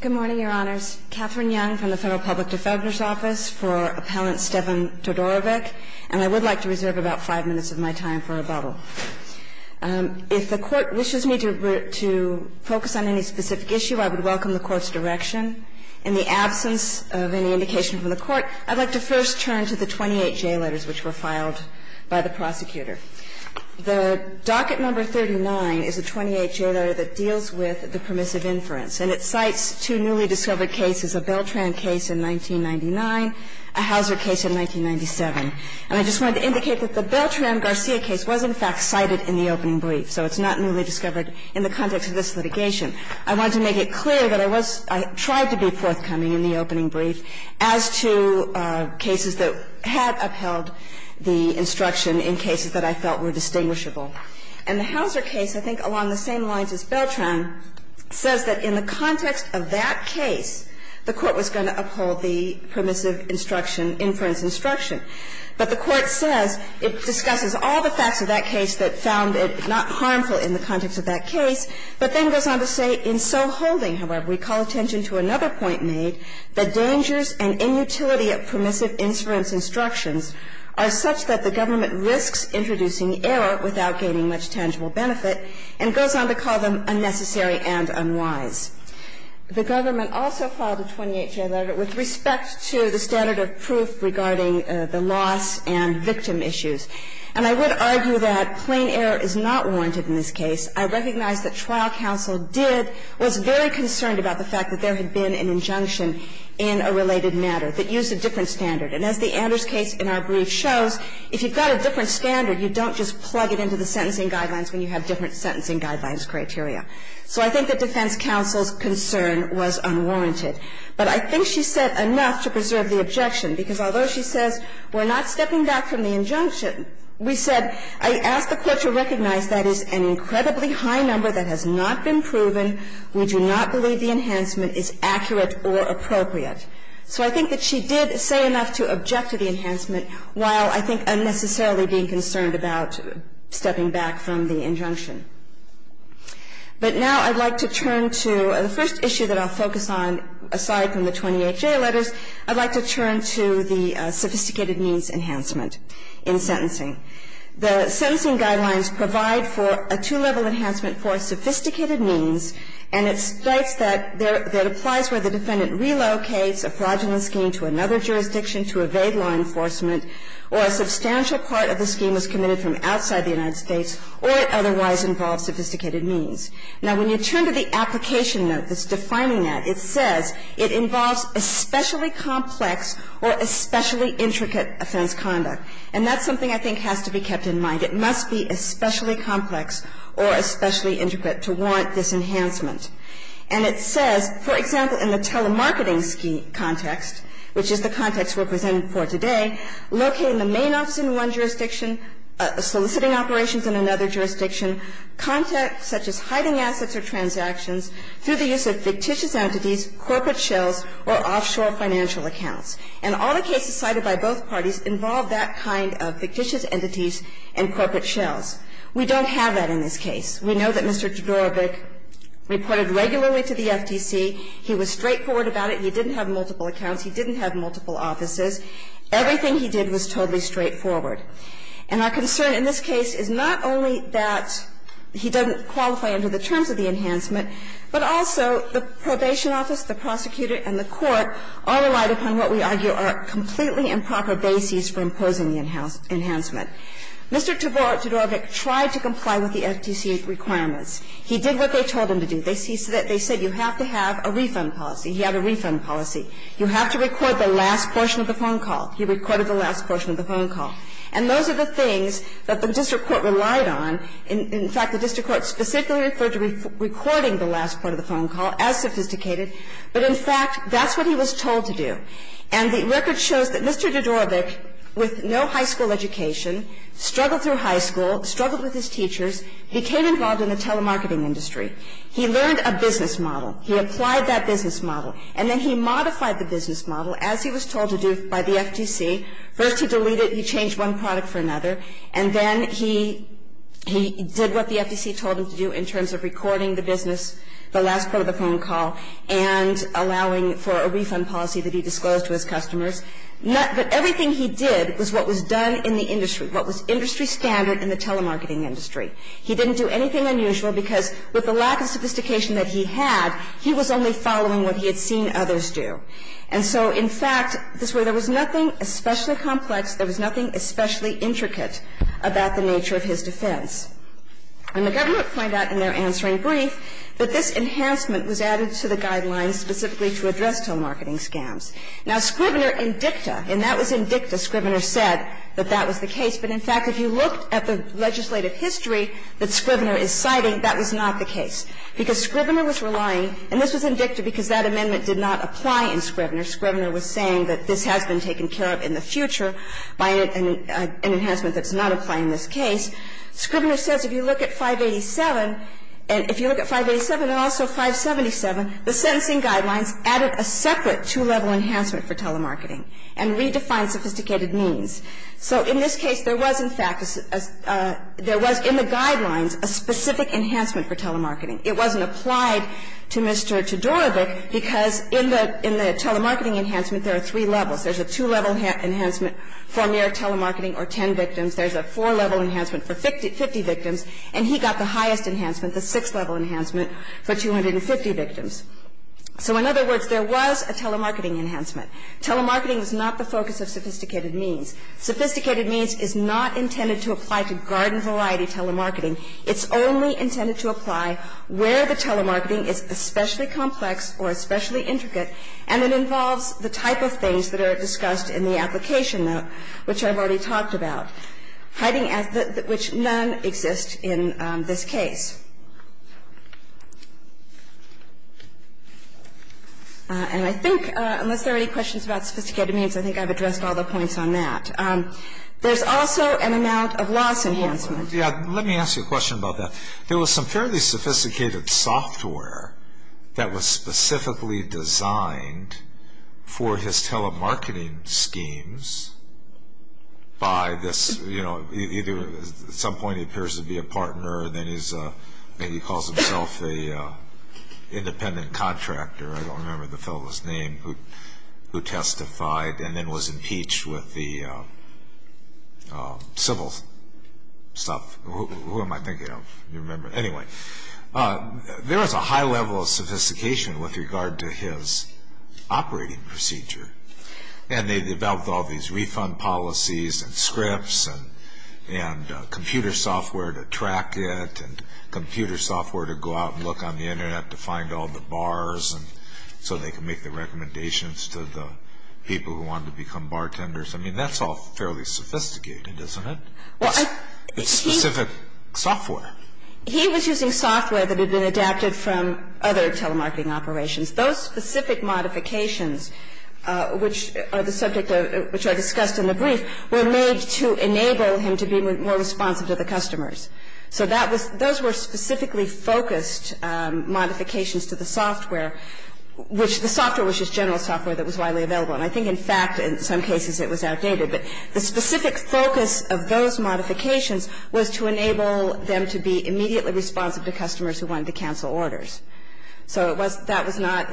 Good morning, Your Honors. Catherine Young from the Federal Public Defender's Office for Appellant Stevan Todorovic, and I would like to reserve about five minutes of my time for rebuttal. If the Court wishes me to focus on any specific issue, I would welcome the Court's direction. In the absence of any indication from the Court, I'd like to first turn to the 28 J letters which were filed by the prosecutor. The docket number 39 is the 28 J letter that deals with the permissive inference. And it cites two newly discovered cases, a Beltran case in 1999, a Houser case in 1997. And I just wanted to indicate that the Beltran-Garcia case was in fact cited in the opening brief, so it's not newly discovered in the context of this litigation. I wanted to make it clear that I was – I tried to be forthcoming in the opening brief as to cases that had upheld the instruction in cases that I felt were distinguishable. And the Houser case, I think along the same lines as Beltran, says that in the context of that case, the Court was going to uphold the permissive instruction, inference instruction. But the Court says it discusses all the facts of that case that found it not harmful in the context of that case, but then goes on to say, in so holding, however, we call attention to another point made, that dangers and inutility of permissive inference instructions are such that the government risks introducing error without gaining much tangible benefit, and goes on to call them unnecessary and unwise. The government also filed a 28 J letter with respect to the standard of proof regarding the loss and victim issues. And I would argue that plain error is not warranted in this case. I recognize that trial counsel did – was very concerned about the fact that there had been an injunction in a related matter that used a different standard. And as the Anders case in our brief shows, if you've got a different standard, you don't just plug it into the sentencing guidelines when you have different sentencing guidelines criteria. So I think that defense counsel's concern was unwarranted. But I think she said enough to preserve the objection, because although she says we're not stepping back from the injunction, we said, I ask the Court to recognize that is an incredibly high number that has not been proven. We do not believe the enhancement is accurate or appropriate. So I think that she did say enough to object to the enhancement, while I think unnecessarily being concerned about stepping back from the injunction. But now I'd like to turn to the first issue that I'll focus on, aside from the 28-J letters. I'd like to turn to the sophisticated means enhancement in sentencing. The sentencing guidelines provide for a two-level enhancement for sophisticated means, and it states that there – that applies where the defendant relocates a fraudulent scheme to another jurisdiction to evade law enforcement, or a substantial part of the scheme was committed from outside the United States, or it otherwise involves sophisticated means. Now, when you turn to the application note that's defining that, it says it involves especially complex or especially intricate offense conduct. And that's something I think has to be kept in mind. It must be especially complex or especially intricate to warrant this enhancement. And it says, for example, in the telemarketing scheme context, which is the context we're presenting for today, locate in the main office in one jurisdiction, soliciting operations in another jurisdiction, context such as hiding assets or transactions through the use of fictitious entities, corporate shells, or offshore financial accounts. And all the cases cited by both parties involve that kind of fictitious entities and corporate shells. We don't have that in this case. We know that Mr. Jodorowicz reported regularly to the FTC. He was straightforward about it. He didn't have multiple accounts. He didn't have multiple offices. Everything he did was totally straightforward. And our concern in this case is not only that he doesn't qualify under the terms of the enhancement, but also the probation office, the prosecutor, and the court all relied upon what we argue are completely improper bases for imposing the enhancement. Mr. Jodorowicz tried to comply with the FTC requirements. He did what they told him to do. They said you have to have a refund policy. He had a refund policy. You have to record the last portion of the phone call. He recorded the last portion of the phone call. And those are the things that the district court relied on. In fact, the district court specifically referred to recording the last part of the phone call as sophisticated. But, in fact, that's what he was told to do. And the record shows that Mr. Jodorowicz, with no high school education, struggled through high school, struggled with his teachers, became involved in the telemarketing industry. He learned a business model. He applied that business model. And then he modified the business model, as he was told to do by the FTC. First he deleted it. He changed one product for another. And then he did what the FTC told him to do in terms of recording the business, the last part of the phone call, and allowing for a refund policy to be disclosed to his customers. But everything he did was what was done in the industry, what was industry standard in the telemarketing industry. He didn't do anything unusual, because with the lack of sophistication that he had, he was only following what he had seen others do. And so, in fact, this way, there was nothing especially complex, there was nothing especially intricate about the nature of his defense. And the government find out in their answering brief that this enhancement was added to the guidelines specifically to address telemarketing scams. Now, Scrivener in dicta, and that was in dicta. Scrivener said that that was the case. But, in fact, if you looked at the legislative history that Scrivener is citing, that was not the case, because Scrivener was relying, and this was in dicta because that amendment did not apply in Scrivener. Scrivener was saying that this has been taken care of in the future by an enhancement that's not applying in this case. Scrivener says if you look at 587, and if you look at 587 and also 577, the sentencing guidelines added a separate two-level enhancement for telemarketing and redefined sophisticated means. So in this case, there was, in fact, there was in the guidelines a specific enhancement for telemarketing. It wasn't applied to Mr. Todorovic, because in the telemarketing enhancement, there are three levels. There's a two-level enhancement for mere telemarketing or ten victims. There's a four-level enhancement for 50 victims. And he got the highest enhancement, the six-level enhancement, for 250 victims. So, in other words, there was a telemarketing enhancement. Telemarketing is not the focus of sophisticated means. Sophisticated means is not intended to apply to garden variety telemarketing. It's only intended to apply where the telemarketing is especially complex or especially intricate, and it involves the type of things that are discussed in the application note, which I've already talked about. Hiding, which none exist in this case. And I think, unless there are any questions about sophisticated means, I think I've addressed all the points on that. There's also an amount of loss enhancement. Yeah, let me ask you a question about that. There was some fairly sophisticated software that was specifically designed for his telemarketing schemes by this, you know, either, at some point he appears to be a partner, then he calls himself an independent contractor, I don't remember the fellow's name, who testified, and then was impeached with the civil stuff. Who am I thinking of? I don't remember. Anyway, there was a high level of sophistication with regard to his operating procedure. And they developed all these refund policies and scripts and computer software to track it and computer software to go out and look on the internet to find all the bars so they could make the recommendations to the people who wanted to make the recommendations. And that's all fairly sophisticated, isn't it? It's specific software. He was using software that had been adapted from other telemarketing operations. Those specific modifications, which are the subject of the brief, were made to enable him to be more responsive to the customers. So that was those were specifically focused modifications to the software, which the software was just general software that was widely available. And I think, in fact, in some cases it was outdated. But the specific focus of those modifications was to enable them to be immediately responsive to customers who wanted to cancel orders. So that was not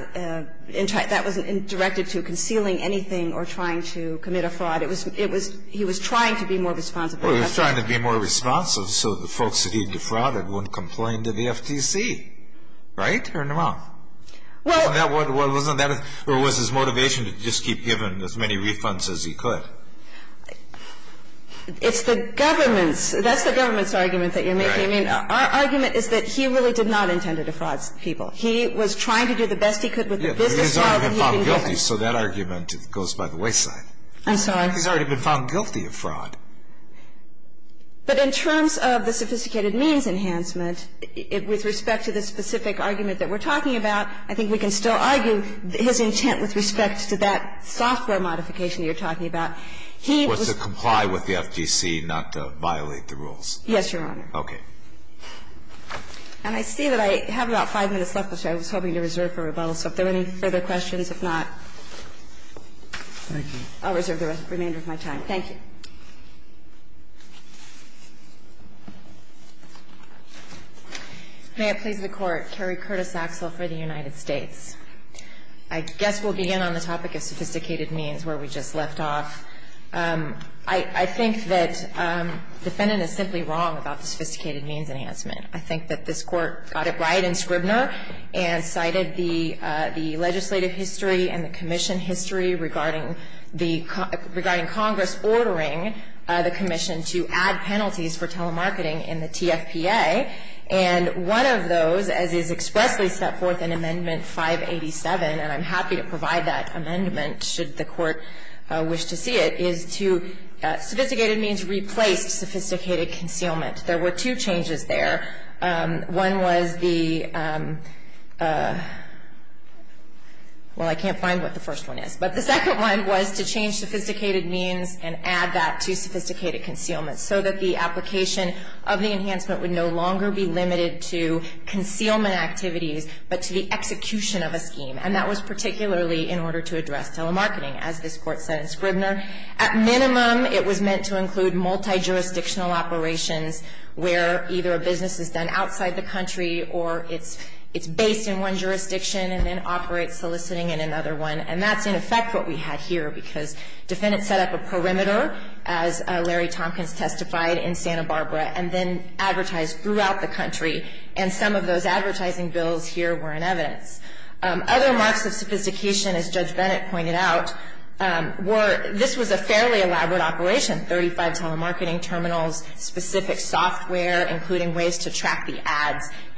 directed to concealing anything or trying to commit a fraud. He was trying to be more responsive to customers. Well, he was trying to be more responsive so the folks that he defrauded wouldn't complain to the FTC. Right? Or not? Or was his motivation to just keep giving as many refunds as he could? It's the government's. That's the government's argument that you're making. Our argument is that he really did not intend to defraud people. He was trying to do the best he could with the business model that he had been given. He's already been found guilty, so that argument goes by the wayside. I'm sorry? He's already been found guilty of fraud. But in terms of the sophisticated means enhancement, with respect to the specific argument that we're talking about, I think we can still argue his intent with respect to that software modification you're talking about. He was to comply with the FTC, not to violate the rules. Yes, Your Honor. Okay. And I see that I have about 5 minutes left, which I was hoping to reserve for rebuttal. So if there are any further questions, if not, I'll reserve the remainder of my time. Thank you. May it please the Court. Carrie Curtis-Axel for the United States. I guess we'll begin on the topic of sophisticated means where we just left off. I think that the defendant is simply wrong about the sophisticated means enhancement. I think that this Court got it right in Scribner and cited the legislative history and the commission history regarding Congress ordering the commission to add penalties for telemarketing in the TFPA. And one of those, as is expressly set forth in Amendment 587, and I'm happy to provide that amendment should the Court wish to see it, is to sophisticated means replaced sophisticated concealment. There were two changes there. One was the — well, I can't find what the first one is. But the second one was to change sophisticated means and add that to sophisticated concealment so that the application of the enhancement would no longer be limited to concealment activities, but to the execution of a scheme. And that was particularly in order to address telemarketing, as this Court said in Scribner. At minimum, it was meant to include multijurisdictional operations where either a business is done outside the country or it's based in one jurisdiction and then operates soliciting in another one. And that's, in effect, what we had here, because defendants set up a perimeter, as Larry Tompkins testified, in Santa Barbara, and then advertised throughout the country. And some of those advertising bills here were in evidence. Other marks of sophistication, as Judge Bennett pointed out, were — this was a fairly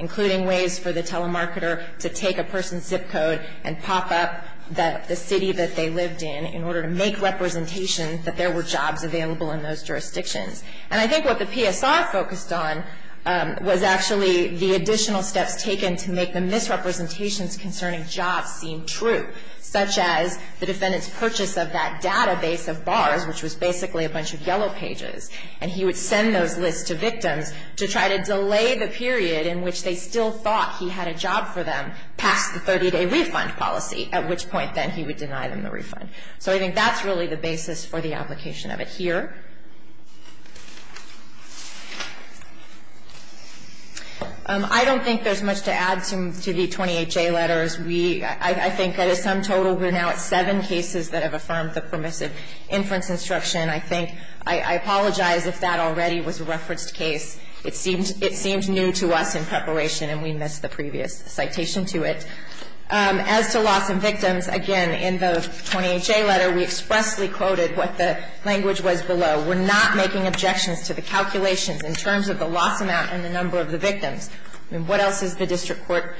including ways for the telemarketer to take a person's zip code and pop up the city that they lived in in order to make representation that there were jobs available in those jurisdictions. And I think what the PSR focused on was actually the additional steps taken to make the misrepresentations concerning jobs seem true, such as the defendant's purchase of that database of bars, which was basically a bunch of yellow pages. And he would send those lists to victims to try to delay the period in which they still thought he had a job for them past the 30-day refund policy, at which point then he would deny them the refund. So I think that's really the basis for the application of it here. I don't think there's much to add to the 28J letters. We — I think that is sum total. We're now at seven cases that have affirmed the permissive inference instruction. I think — I apologize if that already was a referenced case. It seemed — it seemed new to us in preparation, and we missed the previous citation to it. As to loss and victims, again, in the 28J letter, we expressly quoted what the language was below. We're not making objections to the calculations in terms of the loss amount and the number of the victims. I mean, what else is the district court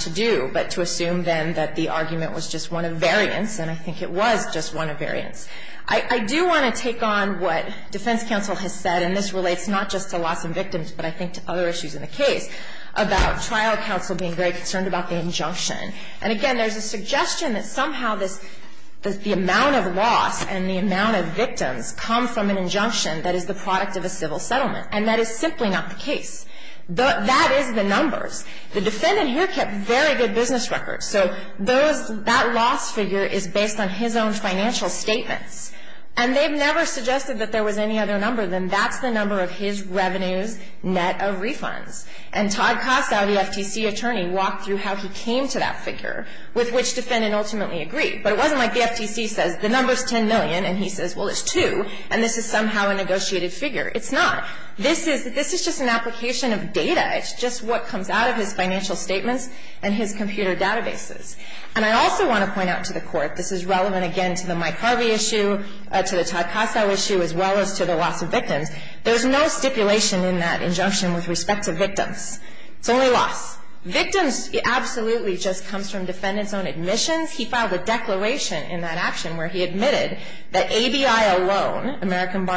to do but to assume then that the argument was just one of variance, and I think it was just one of variance. I do want to take on what defense counsel has said, and this relates not just to loss and victims, but I think to other issues in the case, about trial counsel being very concerned about the injunction. And again, there's a suggestion that somehow this — the amount of loss and the amount of victims come from an injunction that is the product of a civil settlement, and that is simply not the case. That is the numbers. The defendant here kept very good business records. So those — that loss figure is based on his own financial statements, and they've never suggested that there was any other number than that's the number of his revenues net of refunds. And Todd Kossow, the FTC attorney, walked through how he came to that figure, with which defendant ultimately agreed. But it wasn't like the FTC says the number's 10 million, and he says, well, it's 2, and this is somehow a negotiated figure. It's not. This is — this is just an application of data. It's just what comes out of his financial statements and his computer databases. And I also want to point out to the Court — this is relevant, again, to the Mike Harvey issue, to the Todd Kossow issue, as well as to the loss of victims. There's no stipulation in that injunction with respect to victims. It's only loss. Victims absolutely just comes from defendants' own admissions. He filed a declaration in that action where he admitted that ABI alone, American people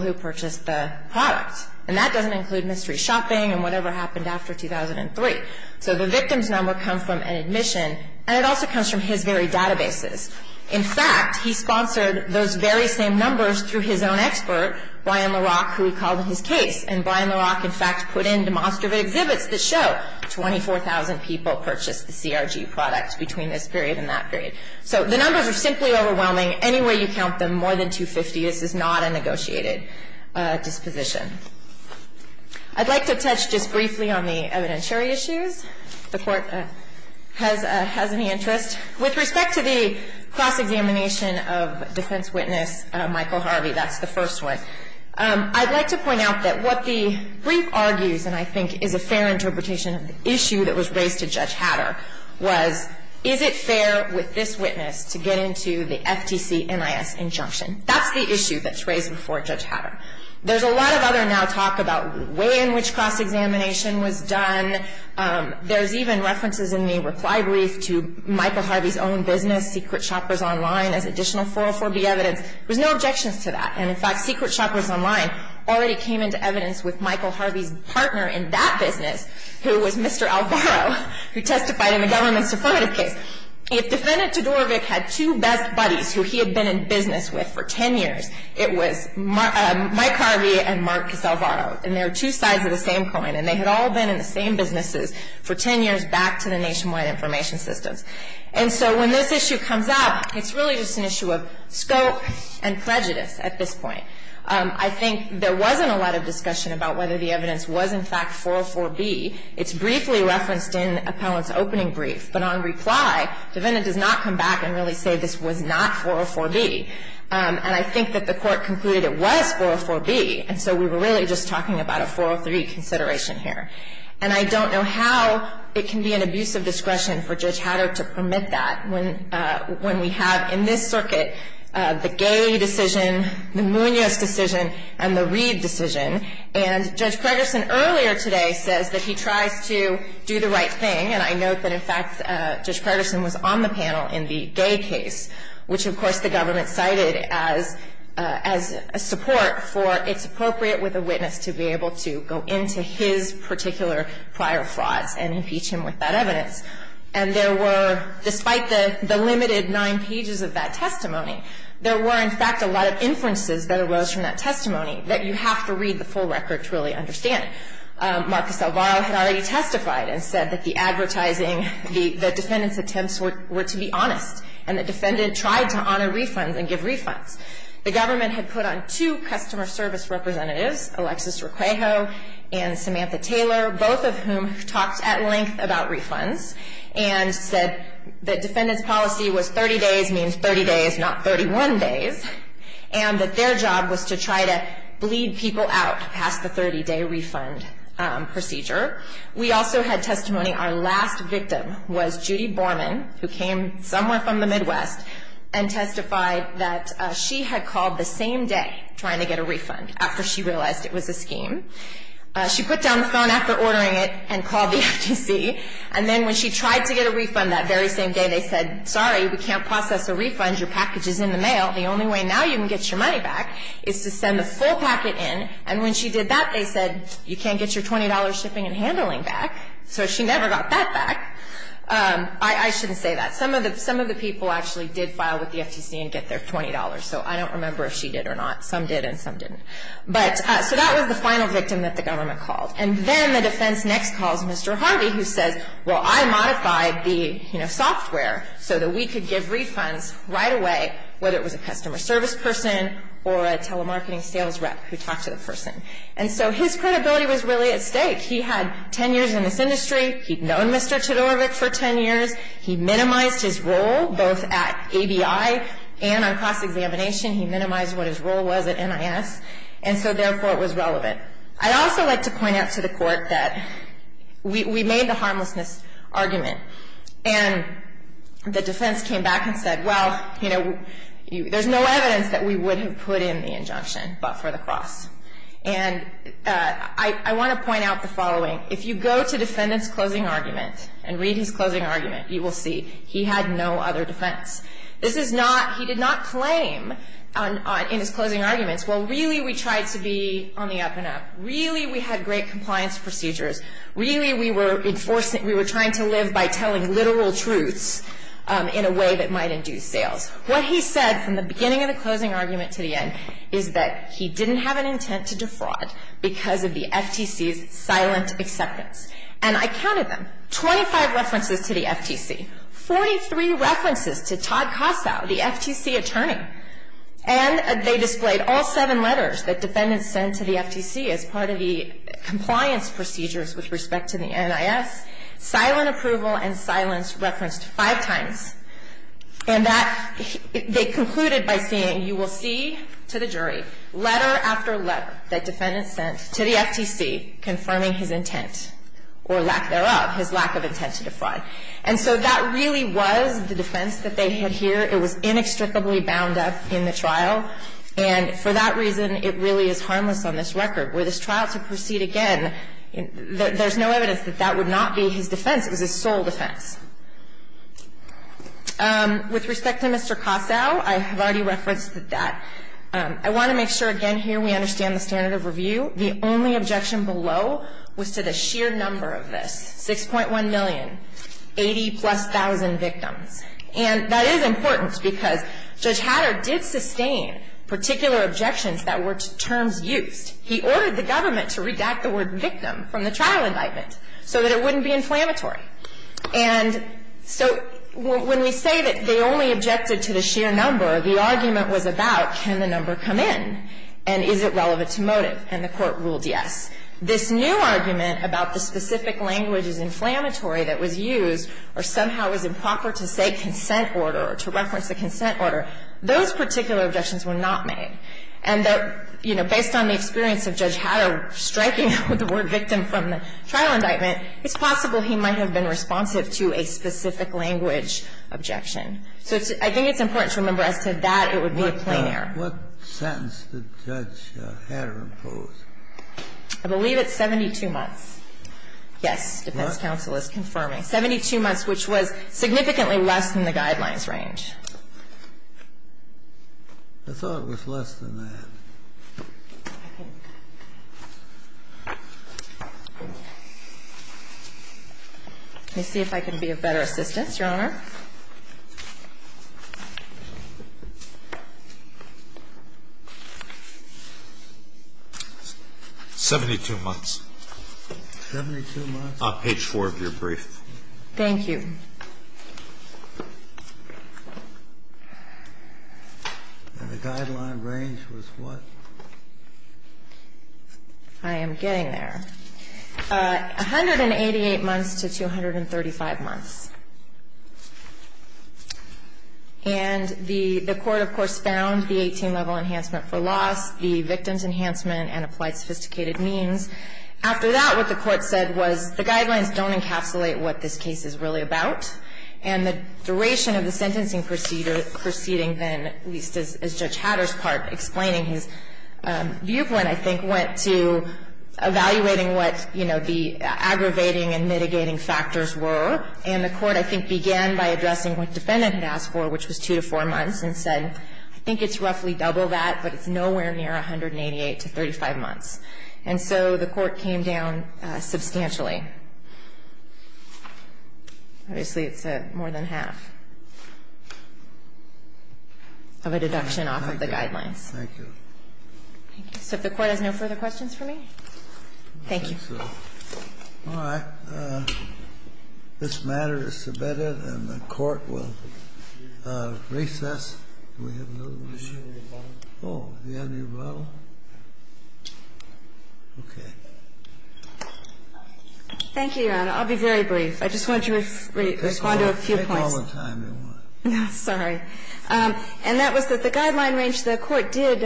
who purchased the product. And that doesn't include mystery shopping and whatever happened after 2003. So the victims' number comes from an admission, and it also comes from his very databases. In fact, he sponsored those very same numbers through his own expert, Brian LaRock, who he called in his case. And Brian LaRock, in fact, put in demonstrative exhibits that show 24,000 people purchased the CRG product between this period and that period. So the numbers are simply overwhelming. Any way you count them, more than 250. This is not a negotiated disposition. I'd like to touch just briefly on the evidentiary issues, if the Court has any interest. With respect to the cross-examination of defense witness Michael Harvey, that's the first one, I'd like to point out that what the brief argues, and I think is a fair interpretation of the issue that was raised to Judge Hatter, was, is it fair with this witness to get into the FTC-NIS injunction? That's the issue that's raised before Judge Hatter. There's a lot of other now talk about way in which cross-examination was done. There's even references in the reply brief to Michael Harvey's own business, Secret Shoppers Online, as additional 404B evidence. There's no objections to that. And, in fact, Secret Shoppers Online already came into evidence with Michael Harvey's partner in that business, who was Mr. Alvaro, who testified in the government's affirmative case. If Defendant Todorovic had two best buddies who he had been in business with for ten years, it was Mike Harvey and Marcus Alvaro. And they were two sides of the same coin. And they had all been in the same businesses for ten years back to the Nationwide Information Systems. And so when this issue comes up, it's really just an issue of scope and prejudice at this point. I think there wasn't a lot of discussion about whether the evidence was, in fact, 404B. It's briefly referenced in Appellant's opening brief. But on reply, Defendant does not come back and really say this was not 404B. And I think that the Court concluded it was 404B. And so we were really just talking about a 403 consideration here. And I don't know how it can be an abuse of discretion for Judge Hatter to permit that when we have in this circuit the Galey decision, the Munoz decision, and the Reed decision. And Judge Pregerson earlier today says that he tries to do the right thing. And I note that, in fact, Judge Pregerson was on the panel in the Gay case, which, of course, the government cited as a support for it's appropriate with a witness to be able to go into his particular prior frauds and impeach him with that evidence. And there were, despite the limited nine pages of that testimony, there were, in fact, a lot of inferences that arose from that testimony that you have to read the full record to really understand. Marcus Alvaro had already testified and said that the advertising, the Defendant's attempts were to be honest. And the Defendant tried to honor refunds and give refunds. The government had put on two customer service representatives, Alexis Requejo and Samantha Taylor, both of whom talked at length about refunds and said that their job was to try to bleed people out past the 30-day refund procedure. We also had testimony. Our last victim was Judy Borman, who came somewhere from the Midwest and testified that she had called the same day trying to get a refund after she realized it was a scheme. She put down the phone after ordering it and called the FTC. And then when she tried to get a refund that very same day, they said, sorry, we can't process a refund. Your package is in the mail. The only way now you can get your money back is to send the full packet in. And when she did that, they said, you can't get your $20 shipping and handling back. So she never got that back. I shouldn't say that. Some of the people actually did file with the FTC and get their $20. So I don't remember if she did or not. Some did and some didn't. But so that was the final victim that the government called. And then the defense next calls Mr. Harvey, who says, well, I modified the, you know, service person or a telemarketing sales rep who talked to the person. And so his credibility was really at stake. He had 10 years in this industry. He'd known Mr. Todorovic for 10 years. He minimized his role both at ABI and on cross-examination. He minimized what his role was at NIS. And so, therefore, it was relevant. I'd also like to point out to the Court that we made the harmlessness argument. And the defense came back and said, well, you know, there's no evidence that we would have put in the injunction, but for the cross. And I want to point out the following. If you go to defendant's closing argument and read his closing argument, you will see he had no other defense. This is not he did not claim in his closing arguments, well, really, we tried to be on the up and up. Really, we had great compliance procedures. Really, we were trying to live by telling literal truths in a way that might induce sales. What he said from the beginning of the closing argument to the end is that he didn't have an intent to defraud because of the FTC's silent acceptance. And I counted them. Twenty-five references to the FTC. Forty-three references to Todd Kossow, the FTC attorney. And they displayed all seven letters that defendants sent to the FTC as part of the compliance procedures with respect to the NIS, silent approval and silence referenced five times. And that they concluded by saying, you will see to the jury letter after letter that defendants sent to the FTC confirming his intent or lack thereof, his lack of intent to defraud. And so that really was the defense that they had here. It was inextricably bound up in the trial. And for that reason, it really is harmless on this record. Were this trial to proceed again, there's no evidence that that would not be his defense. It was his sole defense. With respect to Mr. Kossow, I have already referenced that. I want to make sure, again, here we understand the standard of review. The only objection below was to the sheer number of this, 6.1 million, 80-plus thousand victims. And that is important because Judge Hatter did sustain particular objections that were terms used. He ordered the government to redact the word victim from the trial indictment so that it wouldn't be inflammatory. And so when we say that they only objected to the sheer number, the argument was about can the number come in, and is it relevant to motive. And the Court ruled yes. This new argument about the specific language is inflammatory that was used or somehow was improper to say consent order or to reference the consent order, those particular objections were not made. And that, you know, based on the experience of Judge Hatter striking the word victim from the trial indictment, it's possible he might have been responsive to a specific language objection. So I think it's important to remember as to that it would be a plain error. What sentence did Judge Hatter impose? I believe it's 72 months. Yes. Defense counsel is confirming. 72 months, which was significantly less than the guidelines range. I thought it was less than that. Let me see if I can be of better assistance, Your Honor. 72 months. Page 4 of your brief. Thank you. And the guideline range was what? I am getting there. 188 months to 235 months. And the Court, of course, found the 18-level enhancement for loss, the victim's enhancement, and applied sophisticated means. After that, what the Court said was the guidelines don't encapsulate what this case is really about. And the duration of the sentencing proceeding then, at least as Judge Hatter's part, explaining his viewpoint, I think, went to evaluating what, you know, the aggravating and mitigating factors were. And the Court, I think, began by addressing what the defendant had asked for, which was 2 to 4 months, and said, I think it's roughly double that, but it's nowhere near 188 to 35 months. And so the Court came down substantially. Obviously, it's more than half of a deduction off of the guidelines. Thank you. Thank you. So if the Court has no further questions for me? Thank you. All right. This matter is submitted, and the Court will recess. Do we have another one? Oh, you have a new bottle? Okay. Thank you, Your Honor. I'll be very brief. I just want you to respond to a few points. Take all the time you want. Sorry. And that was that the guideline range, the Court did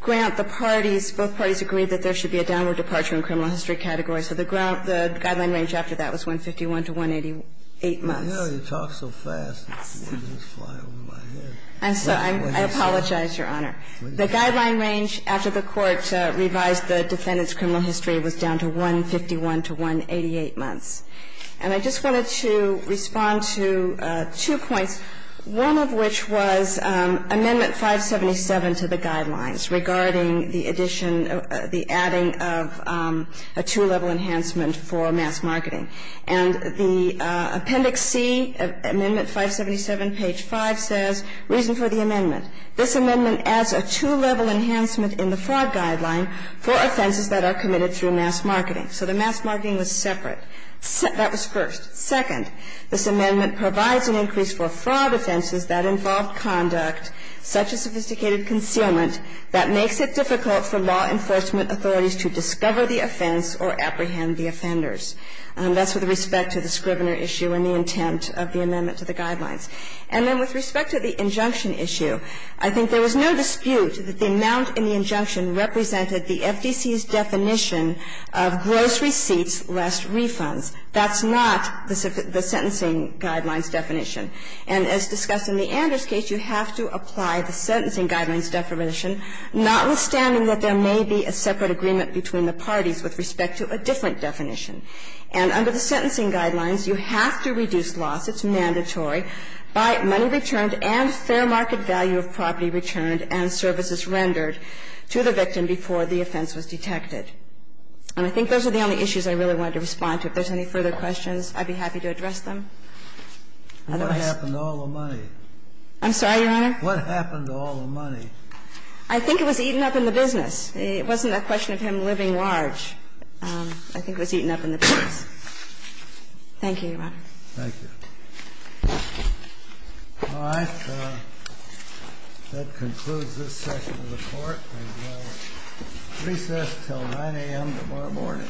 grant the parties, both parties agreed that there should be a downward departure in criminal history categories. So the guideline range after that was 151 to 188 months. You know, you talk so fast, the words just fly over my head. I'm sorry. I apologize, Your Honor. The guideline range after the Court revised the defendant's criminal history was down to 151 to 188 months. And I just wanted to respond to two points, one of which was Amendment 577 to the Amendment 577, page 5. The reason for the amendment is that this amendment is a two-level enhancement for mass marketing. And the Appendix C of Amendment 577, page 5, says, reason for the amendment, this amendment adds a two-level enhancement in the fraud guideline for offenses that are committed through mass marketing. So the mass marketing was separate. That was first. Second, this amendment provides an increase for fraud offenses that involve conduct such as sophisticated concealment that makes it difficult for law enforcement authorities to discover the offense or apprehend the offenders. That's with respect to the Scrivener issue and the intent of the amendment to the guidelines. And then with respect to the injunction issue, I think there was no dispute that the amount in the injunction represented the FDC's definition of gross receipts less refunds. That's not the sentencing guidelines definition. And as discussed in the Anders case, you have to apply the sentencing guidelines definition, notwithstanding that there may be a separate agreement between the parties with respect to a different definition. And under the sentencing guidelines, you have to reduce loss, it's mandatory, by money returned and fair market value of property returned and services rendered to the victim before the offense was detected. And I think those are the only issues I really wanted to respond to. If there's any further questions, I'd be happy to address them. Otherwise ---- What happened to all the money? I'm sorry, Your Honor? What happened to all the money? I think it was eaten up in the business. It wasn't a question of him living large. I think it was eaten up in the business. Thank you. All right. That concludes this session of the Court. Recess until 9 a.m. tomorrow morning.